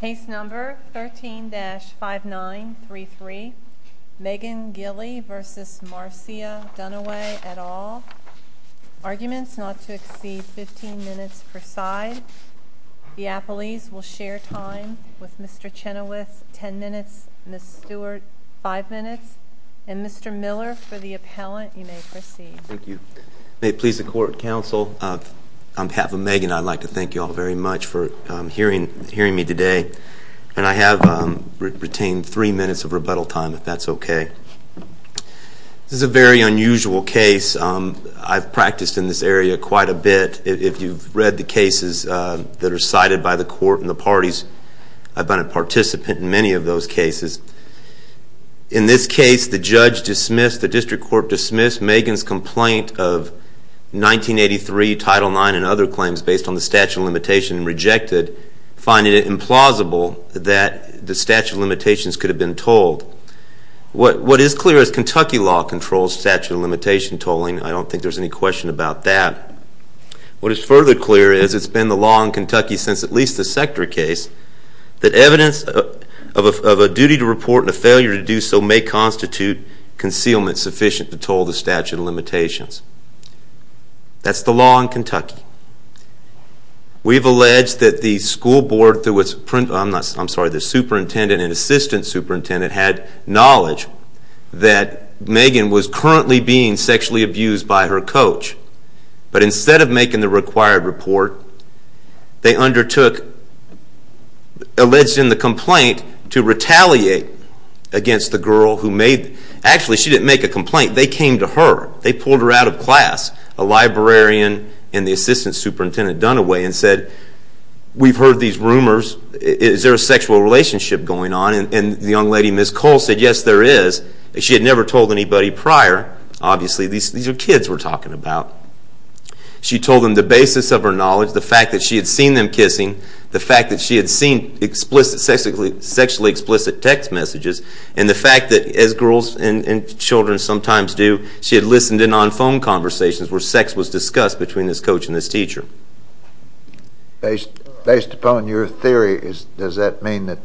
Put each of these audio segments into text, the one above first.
Case number 13-5933, Megan Gilley v. Marcia Dunaway, et al. Arguments not to exceed 15 minutes per side. The appellees will share time with Mr. Chenoweth, 10 minutes, Ms. Stewart, 5 minutes. And Mr. Miller, for the appellant, you may proceed. Thank you. May it please the court, counsel, on behalf of Megan, I'd like to thank you all very much for hearing me today. And I have retained three minutes of rebuttal time, if that's OK. This is a very unusual case. I've practiced in this area quite a bit. If you've read the cases that are cited by the court and the parties, I've been a participant in many of those cases. In this case, the judge dismissed, the district court dismissed Megan's complaint of 1983 Title 9 and other claims based on the statute of limitation and rejected, finding it implausible that the statute of limitations could have been told. What is clear is Kentucky law controls statute of limitation tolling. I don't think there's any question about that. What is further clear is it's been the law in Kentucky since at least the Sector case that evidence of a duty to report and a failure to do so may constitute concealment sufficient to toll the statute of limitations. That's the law in Kentucky. We've alleged that the superintendent and assistant superintendent had knowledge that Megan was currently being sexually abused by her coach. But instead of making the required report, they undertook, alleged in the complaint, to retaliate against the girl who made it. Actually, she didn't make a complaint. They came to her. They pulled her out of class. A librarian and the assistant superintendent done away and said, we've heard these rumors. Is there a sexual relationship going on? And the young lady, Ms. Cole, said, yes, there is. She had never told anybody prior. Obviously, these are kids we're talking about. She told them the basis of her knowledge, the fact that she had seen them kissing, the fact that she had seen sexually explicit text messages, and the fact that, as girls and children sometimes do, she had listened in on phone conversations where sex was discussed between this coach and this teacher. Based upon your theory, does that mean that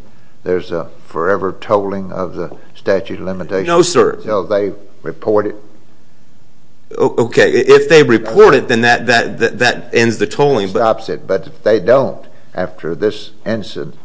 there's a forever tolling of the statute of limitations? No, sir. Until they report it? OK, if they report it, then that ends the tolling. It stops it. But if they don't, after this incident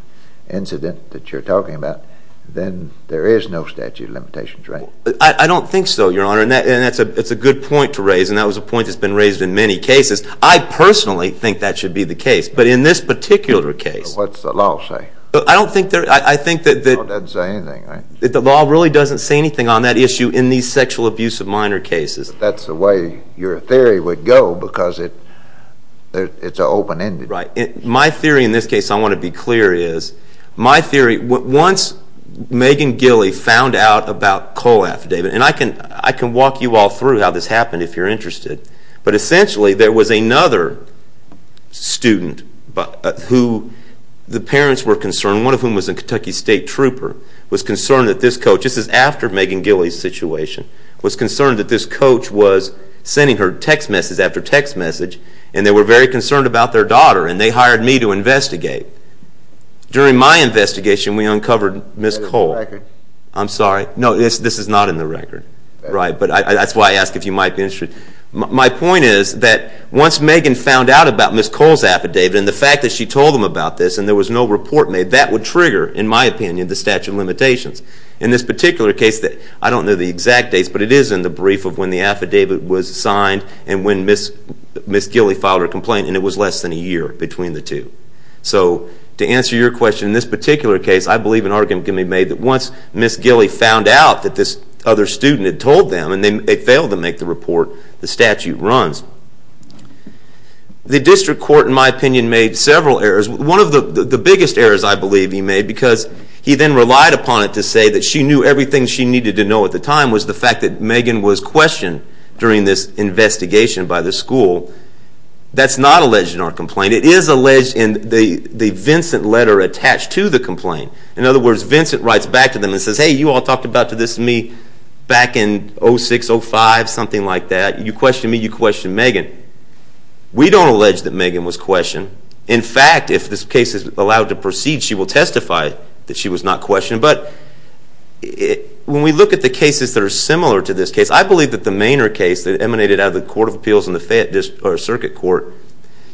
that you're talking about, then there is no statute of limitations, right? I don't think so, Your Honor. It's a good point to raise. And that was a point that's been raised in many cases. I personally think that should be the case. But in this particular case. What's the law say? I don't think there is. I think that the law really doesn't say anything on that issue in these sexual abuse of minor cases. That's the way your theory would go, because it's an open-ended. Right. My theory in this case, I want to be clear, is my theory, once Megan Gilley found out about Cole affidavit. And I can walk you all through how this happened, if you're interested. But essentially, there was another student who the parents were concerned, one of whom was a Kentucky State trooper, was concerned that this coach, this is after Megan Gilley's situation, was concerned that this coach was sending her text message after text message. And they were very concerned about their daughter. And they hired me to investigate. During my investigation, we uncovered Ms. Cole. I'm sorry. This is not in the record. But that's why I ask if you might be interested. My point is that once Megan found out about Ms. Cole's affidavit, and the fact that she told them about this, and there was no report made, that would trigger, in my opinion, the statute of limitations. In this particular case, I don't know the exact dates, but it is in the brief of when the affidavit was signed and when Ms. Gilley filed her complaint. And it was less than a year between the two. So to answer your question, in this particular case, I believe an argument can be made that once Ms. Gilley found out that this other student had told them, and they failed to make the report, the statute runs. The district court, in my opinion, made several errors. One of the biggest errors, I believe, he made because he then relied upon it to say that she knew everything she needed to know at the time was the fact that Megan was questioned during this investigation by the school. That's not alleged in our complaint. It is alleged in the Vincent letter attached to the complaint. In other words, Vincent writes back to them and says, hey, you all talked about this to me back in 06, 05, something like that. You questioned me, you questioned Megan. We don't allege that Megan was questioned. In fact, if this case is allowed to proceed, she will testify that she was not questioned. But when we look at the cases that are similar to this case, I believe that the Manor case that emanated out of the Court of Appeals and the circuit court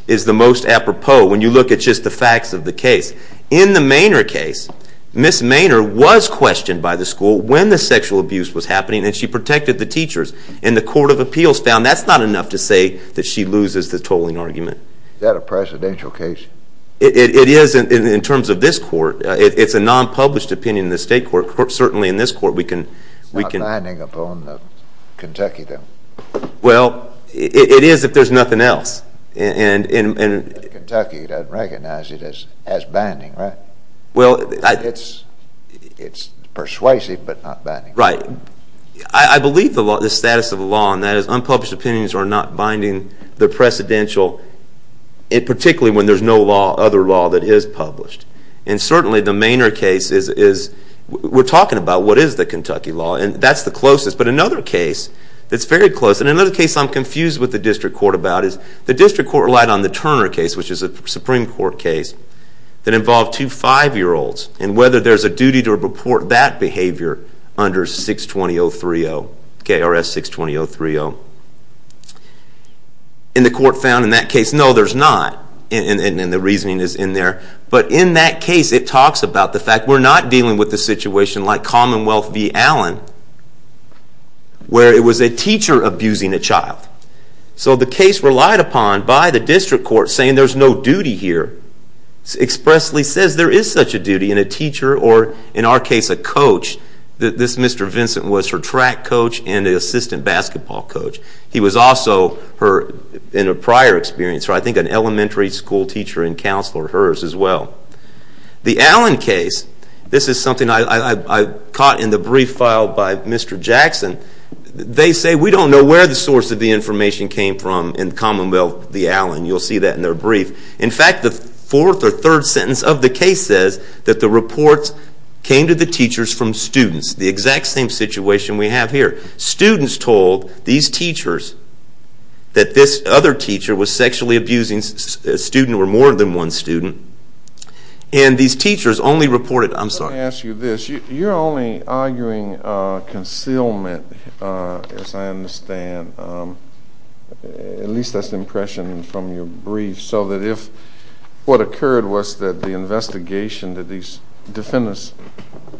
is the most apropos, when you look at just the facts of the case. In the Manor case, Ms. Manor was questioned by the school when the sexual abuse was happening, and she protected the teachers. And the Court of Appeals found that's not enough to say that she loses the tolling argument. Is that a presidential case? It is in terms of this court. It's a non-published opinion in the state court. Certainly in this court, we can. It's not binding upon Kentucky, though. Well, it is if there's nothing else. And Kentucky doesn't recognize it as binding, right? Well, it's persuasive, but not binding. Right. I believe the status of the law, and that is unpublished opinions are not binding the precedential, particularly when there's no other law that is published. And certainly the Manor case is, we're talking about what is the Kentucky law, and that's the closest. But another case that's very close, and another case I'm confused with the district court about, is the district court relied on the Turner case, which is a Supreme Court case, that involved two five-year-olds, and whether there's a duty to report that behavior under 620-030, KRS 620-030. And the court found in that case, no, there's not. And the reasoning is in there. But in that case, it talks about the fact we're not dealing with a situation like Commonwealth v. Allen, where it was a teacher abusing a child. So the case relied upon by the district court saying there's no duty here, expressly says there is such a duty, and a teacher, or in our case, a coach. This Mr. Vincent was her track coach and assistant basketball coach. He was also, in a prior experience, I think an elementary school teacher and counselor, hers as well. The Allen case, this is something I caught in the brief filed by Mr. Jackson. They say we don't know where the source of the information came from in Commonwealth v. Allen. You'll see that in their brief. In fact, the fourth or third sentence of the case says that the reports came to the teachers from students. The exact same situation we have here. Students told these teachers that this other teacher was sexually abusing a student or more than one student. And these teachers only reported, I'm sorry. Let me ask you this. You're only arguing concealment, as I understand. At least that's the impression from your brief. So that if what occurred was that the investigation that these defendants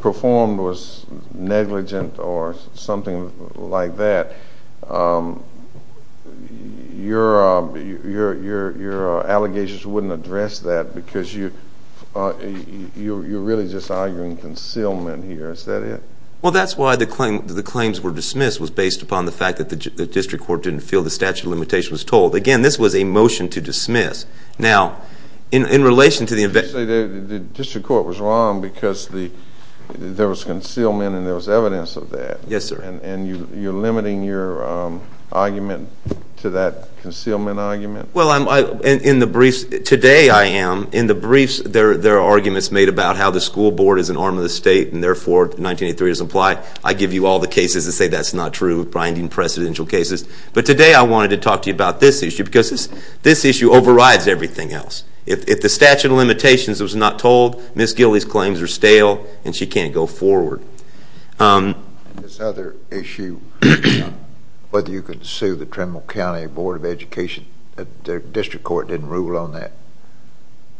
performed was negligent or something like that, your allegations wouldn't address that, because you're really just arguing concealment here. Is that it? Well, that's why the claims were dismissed, was based upon the fact that the district court didn't feel the statute of limitation was told. Again, this was a motion to dismiss. Now, in relation to the investigation. Did you say the district court was wrong because there was concealment and there was evidence of that? Yes, sir. And you're limiting your argument to that concealment argument? Well, in the briefs, today I am. In the briefs, there are arguments made about how the school board is an arm of the state and therefore 1983 doesn't apply. I give you all the cases that say that's not true, grinding precedential cases. But today I wanted to talk to you about this issue, because this issue overrides everything else. If the statute of limitations was not told, Ms. Gilley's claims are stale, and she can't go forward. This other issue, whether you could sue the Tremble County Board of Education, the district court didn't rule on that.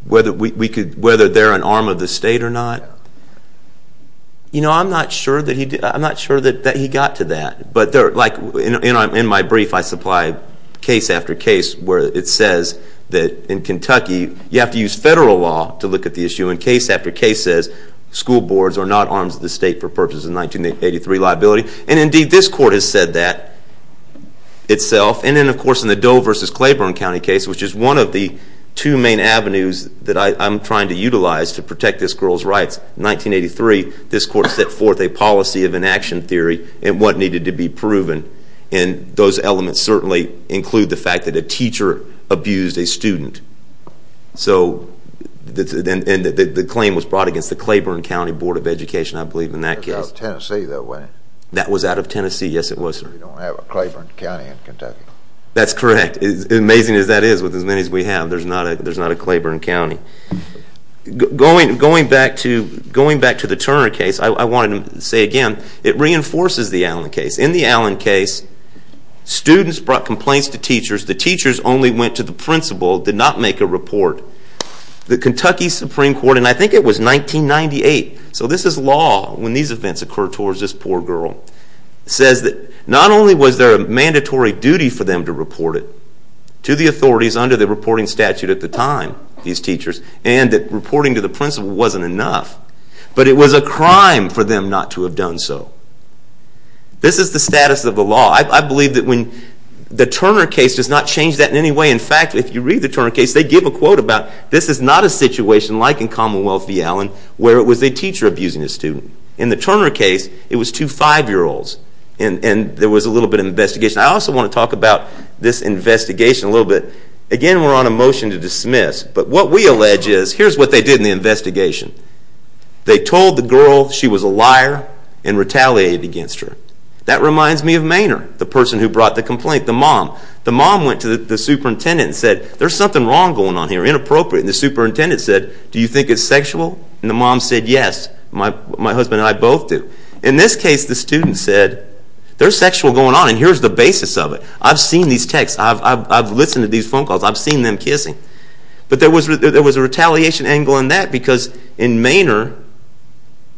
Whether they're an arm of the state or not? You know, I'm not sure that he got to that. But in my brief, I supply case after case where it says that in Kentucky, you have to use federal law to look at the issue. And case after case says school boards are not arms of the state for purposes of 1983 liability. And indeed, this court has said that itself. And then, of course, in the Doe versus Claiborne County case, which is one of the two main avenues that I'm trying to utilize to protect this girl's rights, 1983, this court set forth a policy of inaction theory and what needed to be proven. And those elements certainly include the fact that a teacher abused a student. So the claim was brought against the Claiborne County Board of Education, I believe, in that case. It was out of Tennessee, though, wasn't it? That was out of Tennessee. Yes, it was, sir. We don't have a Claiborne County in Kentucky. That's correct. Amazing as that is, with as many as we have, there's not a Claiborne County. Going back to the Turner case, I wanted to say again, it reinforces the Allen case. In the Allen case, students brought complaints to teachers. The teachers only went to the principal, did not make a report. The Kentucky Supreme Court, and I think it was 1998, so this is law when these events occur towards this poor girl, says that not only was there a mandatory duty for them to report it to the authorities under the reporting statute at the time, these teachers, and that reporting to the principal wasn't enough, but it was a crime for them not to have done so. This is the status of the law. I believe that when the Turner case does not change that in any way. In fact, if you read the Turner case, they give a quote about this is not a situation like in Commonwealth v. Allen, where it was a teacher abusing a student. In the Turner case, it was two five-year-olds. And there was a little bit of investigation. I also want to talk about this investigation a little bit. Again, we're on a motion to dismiss. But what we allege is, here's what they did in the investigation. They told the girl she was a liar and retaliated against her. That reminds me of Maynard, the person who brought the complaint, the mom. The mom went to the superintendent and said, there's something wrong going on here, inappropriate. And the superintendent said, do you think it's sexual? And the mom said, yes. My husband and I both do. In this case, the student said, there's sexual going on, and here's the basis of it. I've seen these texts. I've listened to these phone calls. I've seen them kissing. But there was a retaliation angle in that. Because in Maynard,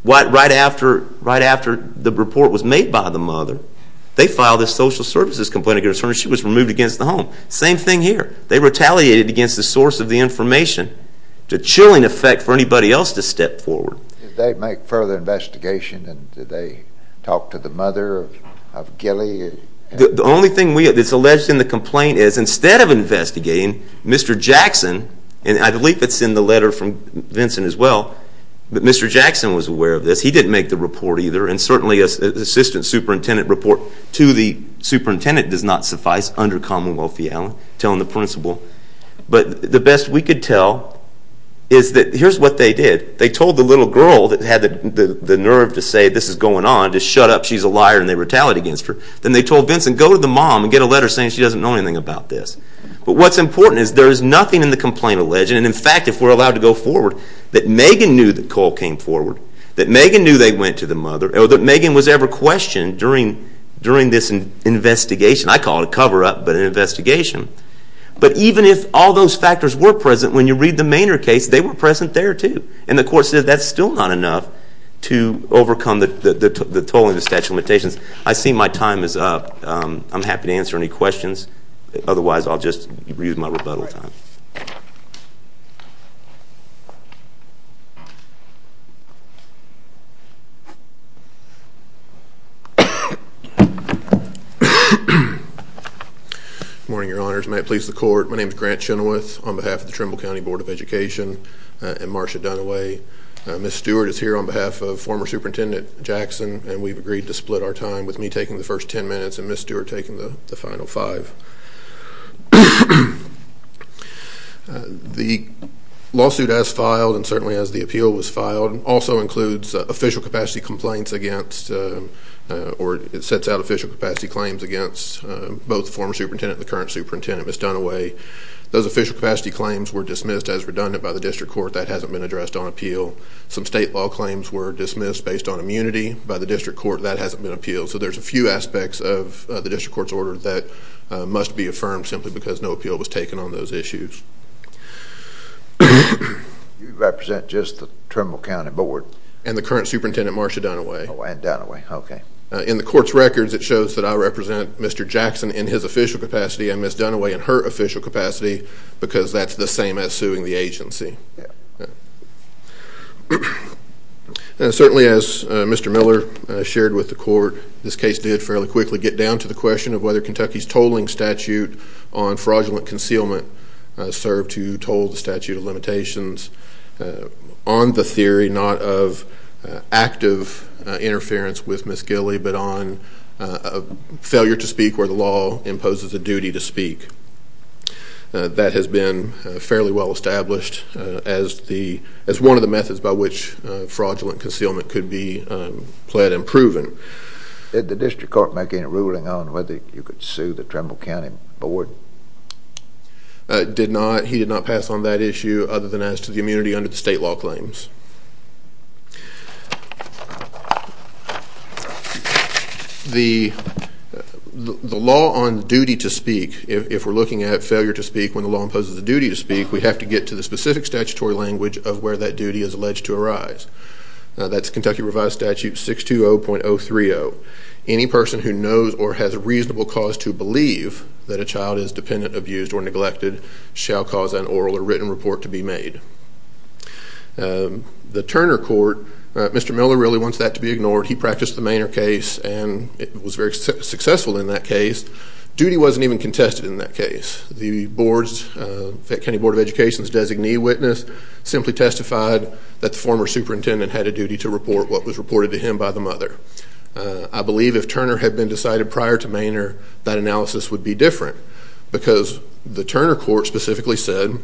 right after the report was made by the mother, they filed a social services complaint against her, and she was removed against the home. Same thing here. They retaliated against the source of the information. It's a chilling effect for anybody else to step forward. Did they make further investigation? And did they talk to the mother of Gilly? The only thing that's alleged in the complaint is, instead of investigating, Mr. Jackson, and I believe it's in the letter from Vincent as well, that Mr. Jackson was aware of this. He didn't make the report either. And certainly, an assistant superintendent report to the superintendent does not suffice under Commonwealth reality, telling the principal. But the best we could tell is that here's what they did. They told the little girl that had the nerve to say this is going on, to shut up, she's a liar, and they retaliated against her. Then they told Vincent, go to the mom and get a letter saying she doesn't know anything about this. But what's important is there is nothing in the complaint alleged. And in fact, if we're allowed to go forward, that Megan knew that Cole came forward, that Megan knew they went to the mother, or that Megan was ever questioned during this investigation. I call it a cover up, but an investigation. But even if all those factors were present, when you read the Maynard case, they were present there too. And the court said that's still not enough to overcome the tolling of the statute of limitations. I see my time is up. I'm happy to answer any questions. Otherwise, I'll just use my rebuttal time. Good morning, your honors. May it please the court. My name's Grant Chenoweth on behalf of the Trimble County Board of Education and Marsha Dunaway. Ms. Stewart is here on behalf of former Superintendent Jackson. And we've agreed to split our time with me taking the first 10 minutes, and Ms. Stewart taking the final five. The lawsuit as filed, and certainly as the appeal was filed, also includes official capacity complaints against, or it sets out official capacity claims against both the former superintendent and the current superintendent, Ms. Dunaway. Those official capacity claims were dismissed as redundant by the district court. That hasn't been addressed on appeal. Some state law claims were dismissed based on immunity by the district court. That hasn't been appealed. So there's a few aspects of the district court's order that must be affirmed simply because no appeal was taken on those issues. You represent just the Trimble County Board? And the current superintendent, Marsha Dunaway. Oh, and Dunaway, OK. In the court's records, it shows that I represent Mr. Jackson in his official capacity and Ms. Dunaway in her official capacity, because that's the same as suing the agency. Certainly, as Mr. Miller shared with the court, this case did fairly quickly get down to the question of whether Kentucky's tolling statute on fraudulent concealment served to toll the statute of limitations on the theory not of active interference with Ms. Gilley, a duty to speak. That has been fairly well-established as one of the methods by which fraudulent concealment could be pled and proven. Did the district court make any ruling on whether you could sue the Trimble County Board? He did not pass on that issue other than as to the immunity under the state law claims. The law on duty to speak, if we're looking at failure to speak when the law imposes a duty to speak, we have to get to the specific statutory language of where that duty is alleged to arise. That's Kentucky Revised Statute 620.030. Any person who knows or has a reasonable cause to believe that a child is dependent, abused, or neglected shall cause an oral or written report to be made. The Turner Court, Mr. Miller really wants that to be ignored. He practiced the Maynard case, and it was very successful in that case. Duty wasn't even contested in that case. The boards, the County Board of Education's designee witness simply testified that the former superintendent had a duty to report what was reported to him by the mother. I believe if Turner had been decided prior to Maynard, that analysis would be different. Because the Turner Court specifically said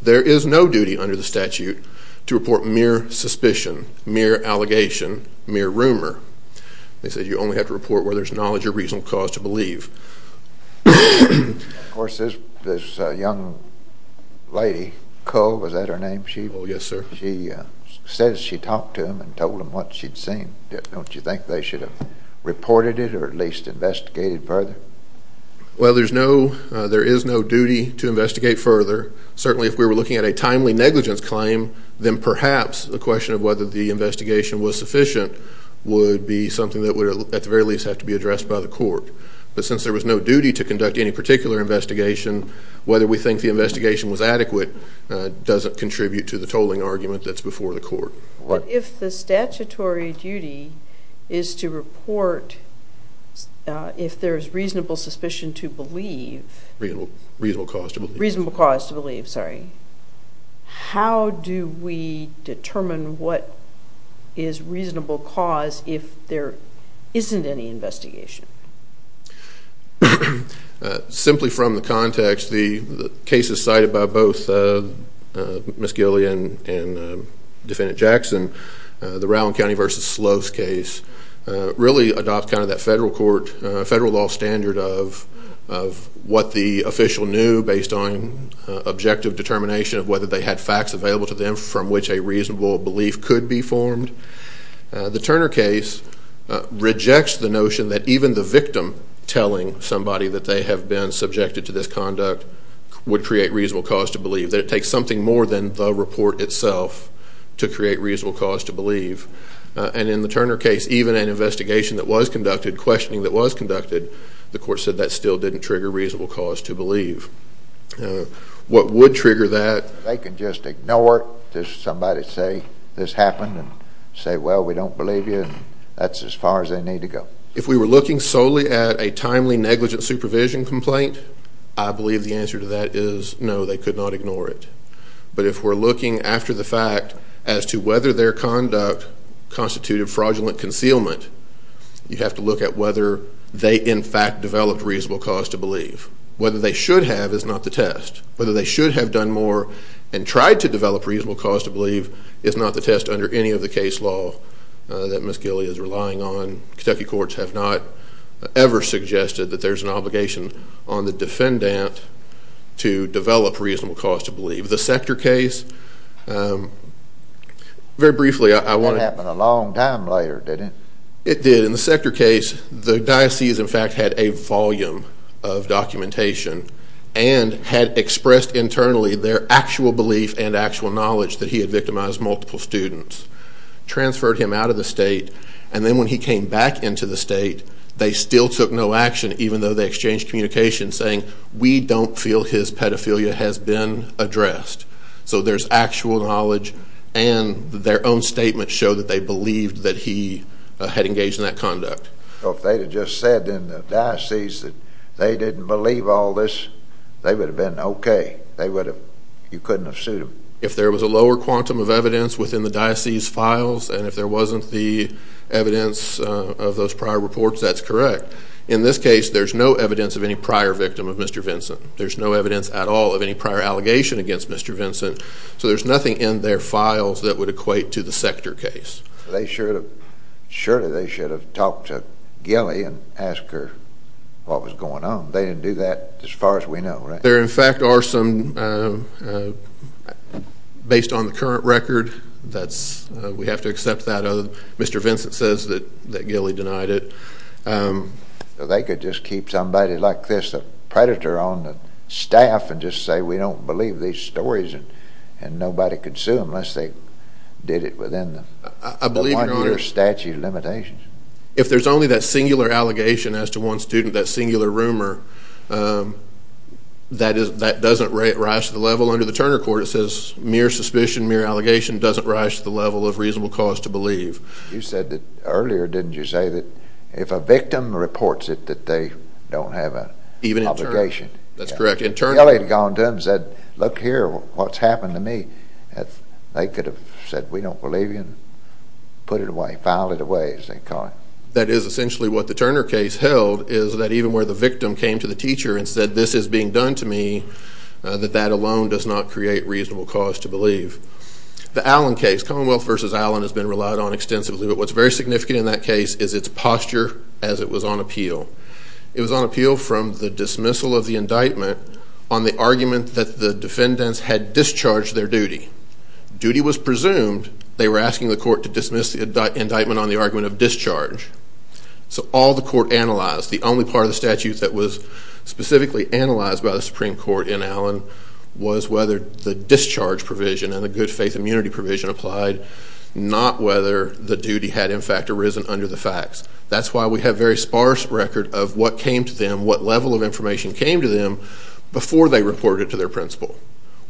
there is no duty under the statute to report mere suspicion, mere allegation, mere rumor. They said you only have to report whether there's knowledge or reasonable cause to believe. Of course, this young lady, Coe, was that her name? Oh, yes, sir. She says she talked to him and told him what she'd seen. Don't you think they should have reported it or at least investigated further? Well, there is no duty to investigate further. Certainly, if we were looking at a timely negligence claim, then perhaps the question of whether the investigation was sufficient would be something that would at the very least have to be addressed by the court. But since there was no duty to conduct any particular investigation, whether we think the investigation was adequate doesn't contribute to the tolling argument that's before the court. If the statutory duty is to report if there is reasonable suspicion to believe. Reasonable cause to believe. Reasonable cause to believe, sorry. How do we determine what is reasonable cause if there isn't any investigation? Simply from the context, the cases cited by both Ms. Gillian and Defendant Jackson, the Rowan County versus Sloth case, really adopt kind of that federal law standard of what the official knew based on objective determination of whether they had facts available to them from which a reasonable belief could be formed. The Turner case rejects the notion that even the victim telling somebody that they have been subjected to this conduct would create reasonable cause to believe, that it takes something more than the report itself to create reasonable cause to believe. And in the Turner case, even an investigation that was conducted, questioning that was conducted, the court said that still didn't trigger reasonable cause to believe. What would trigger that? They could just ignore it. Just somebody say, this happened, and say, well, we don't believe you. That's as far as they need to go. If we were looking solely at a timely negligent supervision complaint, I believe the answer to that is no, they could not ignore it. But if we're looking after the fact as to whether their conduct constituted fraudulent concealment, you have to look at whether they, in fact, developed reasonable cause to believe. Whether they should have is not the test. Whether they should have done more and tried to develop reasonable cause to believe is not the test under any of the case law that Ms. Gilley is relying on. Kentucky courts have not ever suggested that there's an obligation on the defendant to develop reasonable cause to believe. The Sector case, very briefly, I want to say, happened a long time later, didn't it? It did. In the Sector case, the diocese, in fact, had a volume of documentation and had expressed internally their actual belief and actual knowledge that he had victimized multiple students, transferred him out of the state. And then when he came back into the state, they still took no action, even though they exchanged communication saying, we don't feel his pedophilia has been addressed. So there's actual knowledge. And their own statements show that they believed that he had engaged in that conduct. If they had just said in the diocese that they didn't believe all this, they would have been OK. You couldn't have sued them. If there was a lower quantum of evidence within the diocese files, and if there wasn't the evidence of those prior reports, that's correct. In this case, there's no evidence of any prior victim of Mr. Vinson. There's no evidence at all of any prior allegation against Mr. Vinson. So there's nothing in their files that would equate to the Sector case. Surely, they should have talked to Gilley and asked her what was going on. They didn't do that, as far as we know, right? There, in fact, are some, based on the current record, we have to accept that. Mr. Vinson says that Gilley denied it. They could just keep somebody like this, a predator on the staff, and just say, we don't believe these stories. And nobody could sue them, unless they did it within the one-year statute of limitations. If there's only that singular allegation as to one student, that singular rumor, that doesn't rise to the level under the Turner Court. It says, mere suspicion, mere allegation doesn't rise to the level of reasonable cause to believe. You said that earlier, didn't you say that if a victim reports it, that they don't have an obligation? That's correct. Gilley had gone to them and said, look here, what's happened to me? They could have said, we don't believe you, and put it away, file it away, as they call it. That is essentially what the Turner case held, is that even where the victim came to the teacher and said, this is being done to me, that that alone does not create reasonable cause to believe. The Allen case, Commonwealth versus Allen has been relied on extensively. But what's very significant in that case is its posture as it was on appeal. It was on appeal from the dismissal of the indictment on the argument that the defendants had discharged their duty. Duty was presumed. They were asking the court to dismiss the indictment on the argument of discharge. So all the court analyzed, the only part of the statute that was specifically analyzed by the Supreme Court in Allen was whether the discharge provision and the good faith immunity provision applied, not whether the duty had, in fact, arisen under the facts. That's why we have very sparse record of what came to them, what level of information came to them, before they reported to their principal.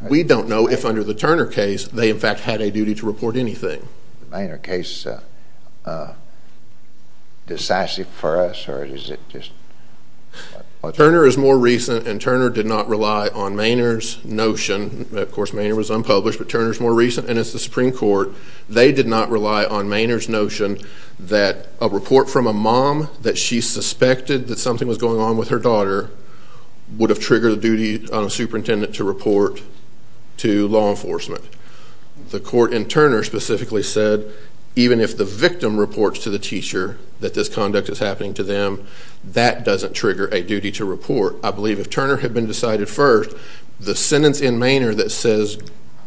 We don't know if under the Turner case, they, in fact, had a duty to report anything. Maynard case decisive for us, or is it just? Turner is more recent, and Turner did not rely on Maynard's notion. Of course, Maynard was unpublished, but Turner is more recent, and it's the Supreme Court. They did not rely on Maynard's notion that a report from a mom that she suspected that something was going on with her daughter would have triggered a duty on a superintendent to report to law enforcement. The court in Turner specifically said, even if the victim reports to the teacher that this conduct is happening to them, that doesn't trigger a duty to report. I believe if Turner had been decided first, the sentence in Maynard that says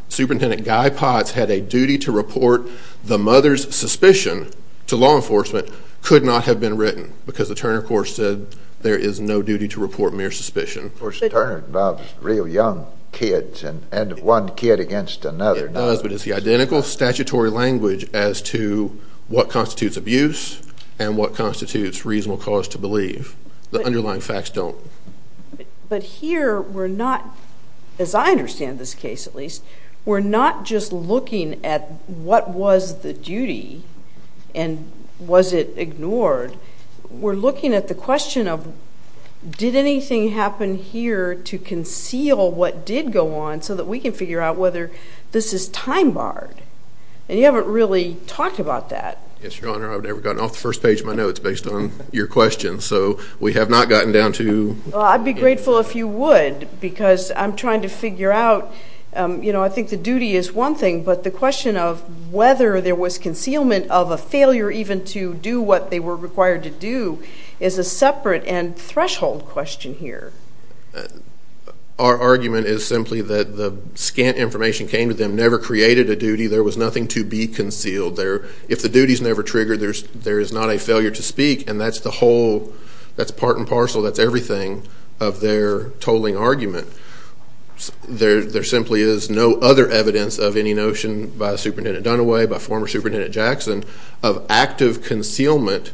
Superintendent Guy Potts had a duty to report the mother's suspicion to law enforcement could not have been written, because the Turner court said there is no duty to report mere suspicion. Of course, Turner involves real young kids, and one kid against another. It does, but it's the identical statutory language as to what constitutes abuse and what constitutes reasonable cause to believe. The underlying facts don't. But here, we're not, as I understand this case at least, we're not just looking at what was the duty and was it ignored, we're looking at the question of, did anything happen here to conceal what did go on so that we can figure out whether this is time barred? And you haven't really talked about that. Yes, Your Honor, I've never gotten off the first page of my notes based on your question. So we have not gotten down to. Well, I'd be grateful if you would, because I'm trying to figure out. I think the duty is one thing, but the question of whether there was concealment of a failure even to do what they were required to do is a separate and threshold question here. Our argument is simply that the scant information came to them never created a duty. There was nothing to be concealed. If the duty's never triggered, there is not a failure to speak. And that's the whole, that's part and parcel, that's everything of their tolling argument. There simply is no other evidence of any notion by Superintendent Dunaway, by former Superintendent Jackson, of active concealment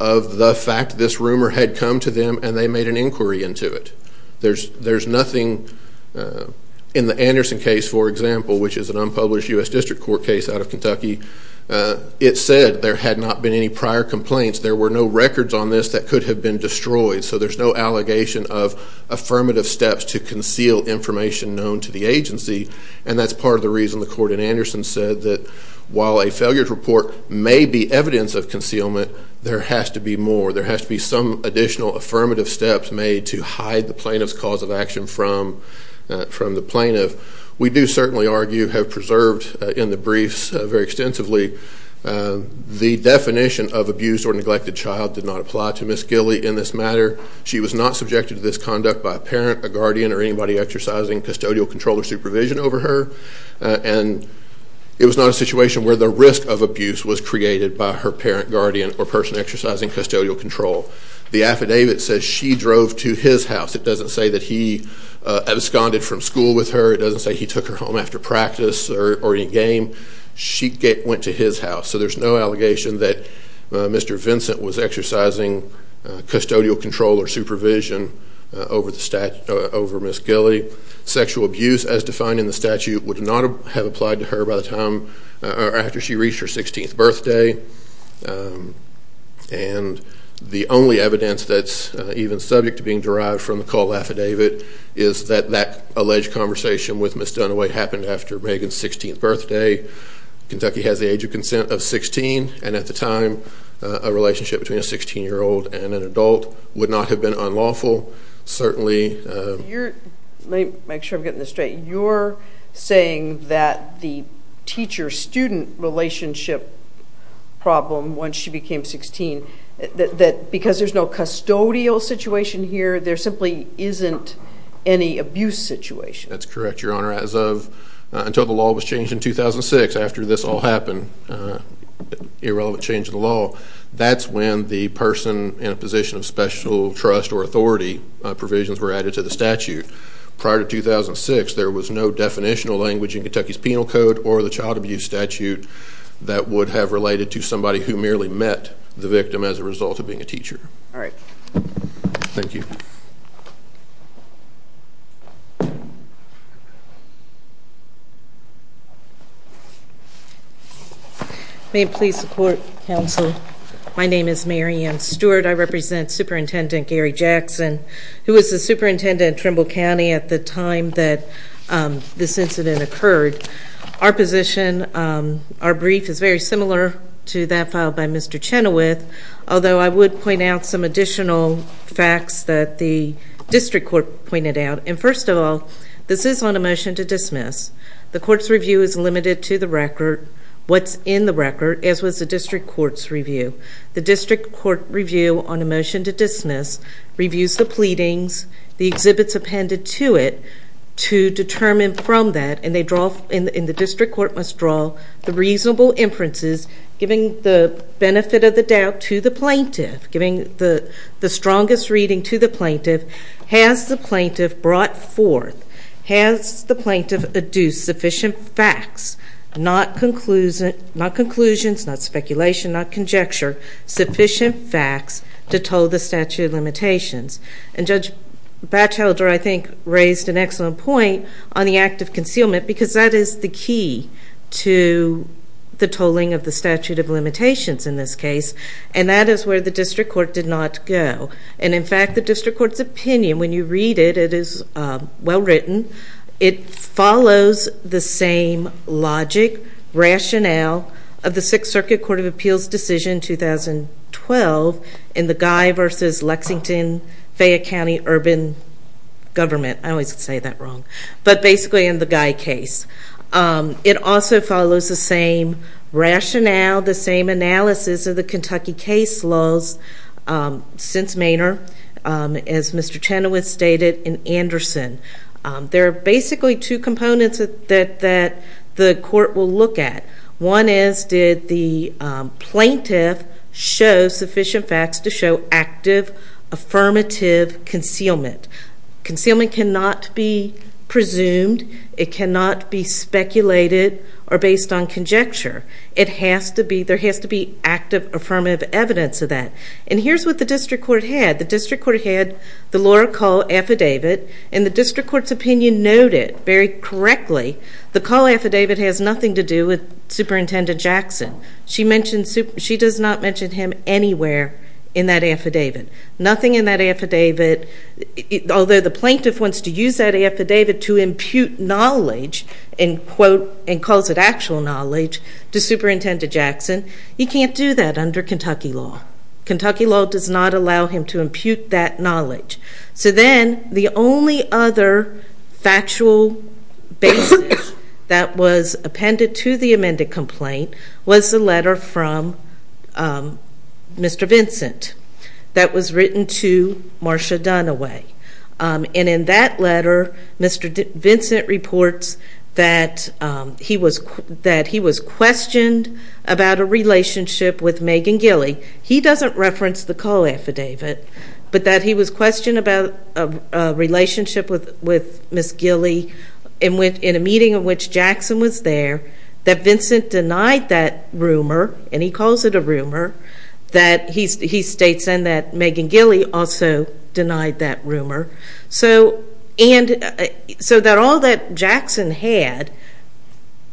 of the fact this rumor had come to them and they made an inquiry into it. There's nothing in the Anderson case, for example, which is an unpublished US District Court case out of Kentucky. It said there had not been any prior complaints. There were no records on this that could have been destroyed. So there's no allegation of affirmative steps to conceal information known to the agency. And that's part of the reason the court in Anderson said that while a failure to report may be evidence of concealment, there has to be more. There has to be some additional affirmative steps made to hide the plaintiff's cause of action from the plaintiff. We do certainly argue, have preserved in the briefs very extensively, the definition of abused or neglected child did not apply to Miss Gilley in this matter. She was not subjected to this conduct by a parent, a guardian, or anybody exercising custodial control or supervision over her. And it was not a situation where the risk of abuse was created by her parent, guardian, or person exercising custodial control. The affidavit says she drove to his house. It doesn't say that he absconded from school with her. It doesn't say he took her home after practice or in-game. She went to his house. So there's no allegation that Mr. Vincent was exercising custodial control or supervision over Miss Gilley. Sexual abuse, as defined in the statute, would not have applied to her after she reached her 16th birthday. And the only evidence that's even subject to being derived from the call affidavit is that that alleged conversation with Miss Dunaway happened after Megan's 16th birthday. Kentucky has the age of consent of 16. And at the time, a relationship between a 16-year-old and an adult would not have been unlawful. Certainly, you're saying that the teacher-student relationship problem, once she became 16, that because there's no custodial situation here, there simply isn't any abuse situation. That's correct, Your Honor, as of until the law was changed in 2006, after this all happened, irrelevant change in the law. That's when the person in a position of special trust or authority provisions were added to the statute. Prior to 2006, there was no definitional language in Kentucky's penal code or the child abuse statute that would have related to somebody who merely met the victim as a result of being a teacher. All right. Thank you. May it please the court, counsel. My name is Mary Ann Stewart. I represent Superintendent Gary Jackson, who was the superintendent of Trimble County at the time that this incident occurred. Our position, our brief, is very similar to that filed by Mr. Chenoweth, although I would point out some additional facts that the district court pointed out. And first of all, this is on a motion to dismiss. The court's review of the case is limited to the record, what's in the record, as was the district court's review. The district court review on a motion to dismiss reviews the pleadings, the exhibits appended to it to determine from that, and the district court must draw the reasonable inferences, giving the benefit of the doubt to the plaintiff, giving the strongest reading to the plaintiff. Has the plaintiff brought forth, has the plaintiff deduced sufficient facts, not conclusions, not speculation, not conjecture, sufficient facts to toll the statute of limitations? And Judge Batchelder, I think, raised an excellent point on the act of concealment, because that is the key to the tolling of the statute of limitations in this case, and that is where the district court did not go. And in fact, the district court's opinion, when you read it, it is well-written. It follows the same logic, rationale, of the Sixth Circuit Court of Appeals decision, 2012, in the Guy versus Lexington-Fayette County Urban Government. I always say that wrong, but basically in the Guy case. It also follows the same rationale, the same analysis of the Kentucky case laws, since Maynard, as Mr. Chenoweth stated, and Anderson. There are basically two components that the court will look at. One is, did the plaintiff show sufficient facts to show active, affirmative concealment? Concealment cannot be presumed. It cannot be speculated or based on conjecture. It has to be, there has to be active, affirmative evidence of that. And here's what the district court had. The district court had the Laura Call affidavit. And the district court's opinion noted, very correctly, the Call affidavit has nothing to do with Superintendent Jackson. She mentions, she does not mention him anywhere in that affidavit. Nothing in that affidavit, although the plaintiff wants to use that affidavit to impute knowledge, and quote, and calls it actual knowledge, to Superintendent Jackson, he can't do that under Kentucky law. Kentucky law does not allow him to impute that knowledge. So then, the only other factual basis that was appended to the amended complaint was the letter from Mr. Vincent that was written to Marcia Dunaway. And in that letter, Mr. Vincent reports that he was questioned about a relationship with Megan Gilley. He doesn't reference the Call affidavit, but that he was questioned about a relationship with Ms. Gilley in a meeting in which Jackson was there, that Vincent denied that rumor, and he calls it a rumor, that he states then that Megan Gilley also denied that rumor. So that all that Jackson had,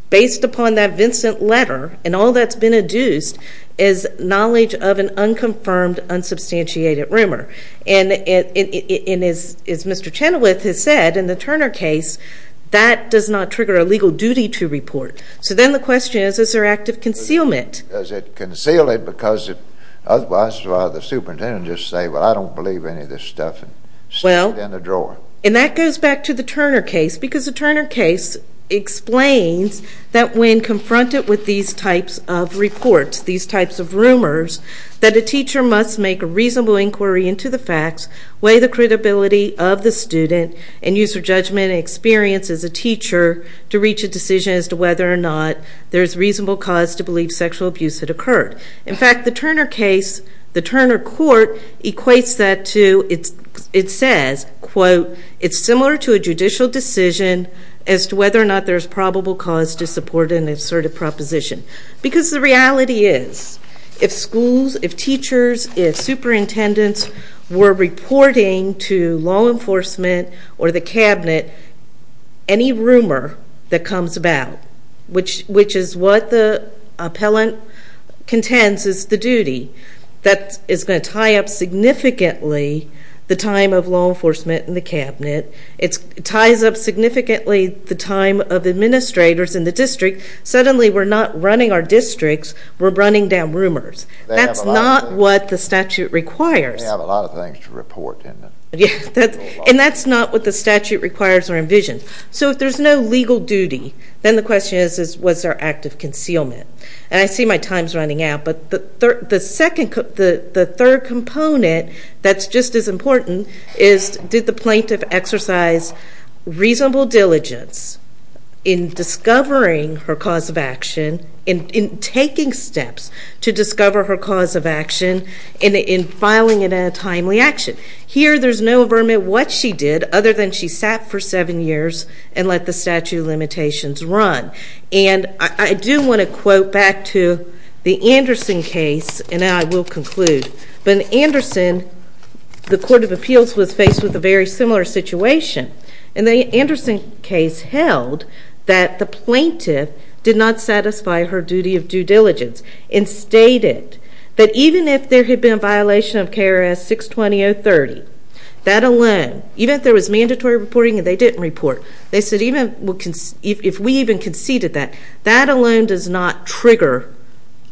based upon that Vincent letter, and all that's been adduced, is knowledge of an unconfirmed, unsubstantiated rumor. And as Mr. Chenoweth has said, in the Turner case, that does not trigger a legal duty to report. So then the question is, is there active concealment? Does it conceal it, because otherwise the superintendent would just say, well, I don't believe any of this stuff, and stuff it in the drawer. And that goes back to the Turner case, because the Turner case explains that when confronted with these types of reports, these types of rumors, that a teacher must make a reasonable inquiry into the facts, weigh the credibility of the student, and use her judgment and experience as a teacher to reach a decision as to whether or not there's reasonable cause to believe sexual abuse had occurred. In fact, the Turner case, the Turner court, equates that to, it says, quote, it's similar to a judicial decision as to whether or not there's probable cause to support an assertive proposition. Because the reality is, if schools, if teachers, if superintendents were reporting to law enforcement or the cabinet, any rumor that comes about, which is what the appellant contends is the duty, that is going to tie up significantly the time of law enforcement and the cabinet. It ties up significantly the time of administrators in the district. Suddenly, we're not running our districts, we're running down rumors. That's not what the statute requires. They have a lot of things to report, didn't they? And that's not what the statute requires or envisions. So if there's no legal duty, then the question is, was there active concealment? And I see my time's running out, but the third component that's just as important is, did the plaintiff exercise reasonable diligence in discovering her cause of action and in taking steps to discover her cause of action and in filing it in a timely action? Here, there's no vermin what she did, other than she sat for seven years and let the statute of limitations run. And I do want to quote back to the Anderson case, and I will conclude. But in Anderson, the Court of Appeals was faced with a very similar situation. And the Anderson case held that the plaintiff did not satisfy her duty of due diligence and stated that even if there had been a violation of KRS 620-030, that alone, even if there was mandatory reporting and they didn't report, they said, if we even conceded that, that alone does not trigger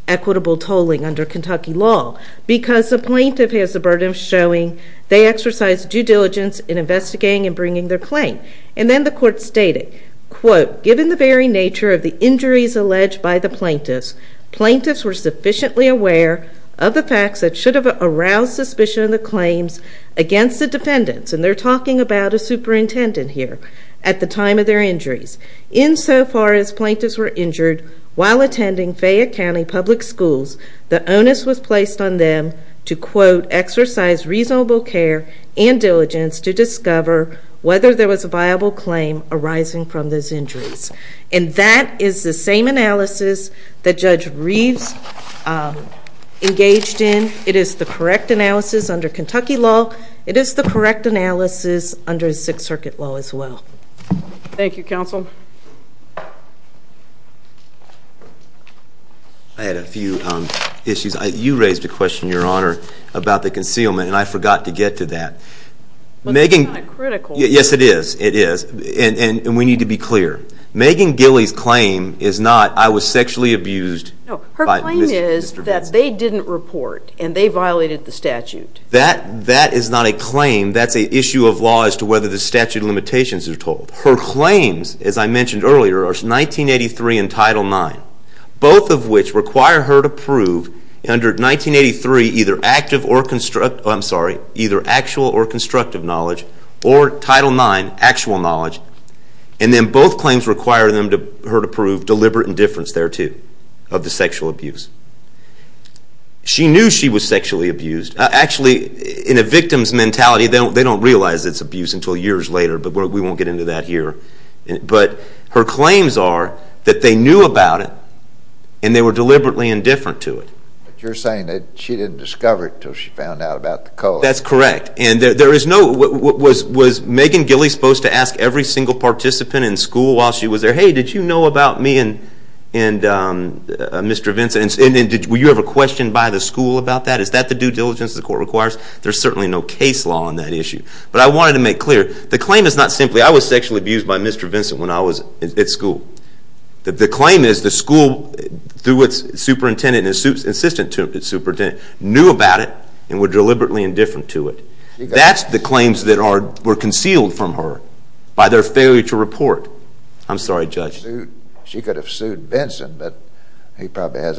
equitable tolling under Kentucky law. Because the plaintiff has the burden of showing they exercised due diligence in investigating and bringing their claim. And then the court stated, quote, given the very nature of the injuries alleged by the plaintiffs, plaintiffs were sufficiently aware of the facts that should have aroused suspicion of the claims against the defendants. And they're talking about a superintendent here at the time of their injuries. In so far as plaintiffs were injured while attending Fayette County public schools, the onus was placed on them to, quote, exercise reasonable care and diligence to discover whether there was a viable claim arising from those injuries. And that is the same analysis that Judge Reeves engaged in. It is the correct analysis under Kentucky law. It is the correct analysis under Sixth Circuit law as well. Thank you, counsel. I had a few issues. You raised a question, Your Honor, about the concealment. And I forgot to get to that. But it's kind of critical. Yes, it is. It is. And we need to be clear. Megan Gilley's claim is not, I was sexually abused by Mr. Benson. Her claim is that they didn't report and they violated the statute. That is not a claim. That's an issue of law as to whether the statute limitations are told. Her claims, as I mentioned earlier, are 1983 and Title IX, both of which require her to prove under 1983 either actual or constructive knowledge or Title IX, actual knowledge. And then both claims require her to prove deliberate indifference thereto of the sexual abuse. She knew she was sexually abused. Actually, in a victim's mentality, they don't realize it's abuse until years later. But we won't get into that here. But her claims are that they knew about it and they were deliberately indifferent to it. You're saying that she didn't discover it until she found out about the code. That's correct. And there is no, was Megan Gilley supposed to ask every single participant in school while she was there, hey, did you know about me and Mr. Benson, and were you ever questioned by the school about that? Is that the due diligence the court requires? There's certainly no case law on that issue. But I wanted to make clear, the claim is not simply, I was sexually abused by Mr. Benson when I was at school. The claim is the school, through its superintendent and its assistant superintendent, knew about it and were deliberately indifferent to it. That's the claims that were concealed from her by their failure to report. I'm sorry, Judge. She could have sued Benson, but he probably has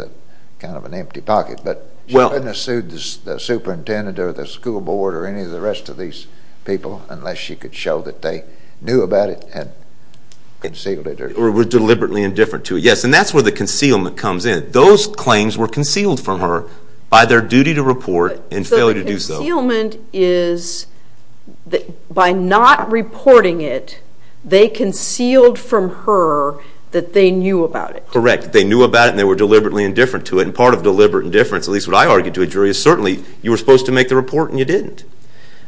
kind of an empty pocket. But she couldn't have sued the superintendent or the school board or any of the rest of these people unless she could show that they knew about it and concealed it. Or were deliberately indifferent to it. Yes, and that's where the concealment comes in. Those claims were concealed from her by their duty to report and failure to do so. So the concealment is, by not reporting it, they concealed from her that they knew about it. Correct. They knew about it, and they were deliberately indifferent to it. And part of deliberate indifference, at least what I argue to a jury, is certainly, you were supposed to make the report and you didn't.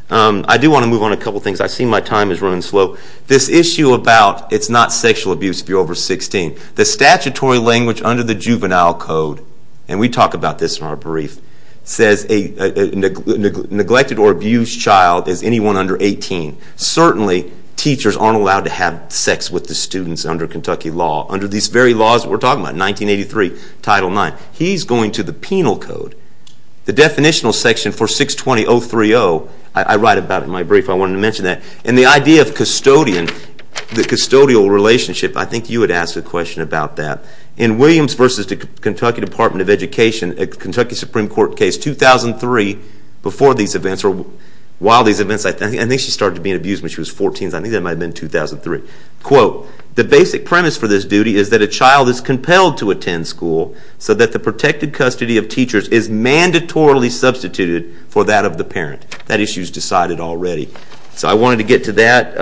I do want to move on a couple things. I see my time is running slow. This issue about it's not sexual abuse if you're over 16. The statutory language under the Juvenile Code, and we talk about this in our brief, says a neglected or abused child is anyone under 18. Certainly, teachers aren't allowed to have sex with the students under Kentucky law. Under these very laws we're talking about, 1983, Title IX. He's going to the penal code. The definitional section for 620.030, I write about it in my brief. I wanted to mention that. And the idea of custodian, the custodial relationship, I think you had asked a question about that. In Williams versus the Kentucky Department of Education, Kentucky Supreme Court case 2003, before these events, or while these events, I think she started to be abused when she was 14. I think that might have been 2003. Quote, the basic premise for this duty is that a child is compelled to attend school so that the protected custody of teachers is mandatorily substituted for that of the parent. That issue is decided already. So I wanted to get to that.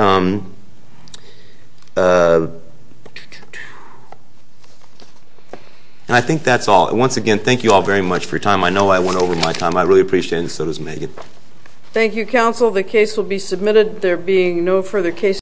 And I think that's all. Once again, thank you all very much for your time. I know I went over my time. I really appreciate it, and so does Megan. Thank you, counsel. The case will be submitted. There being no further cases.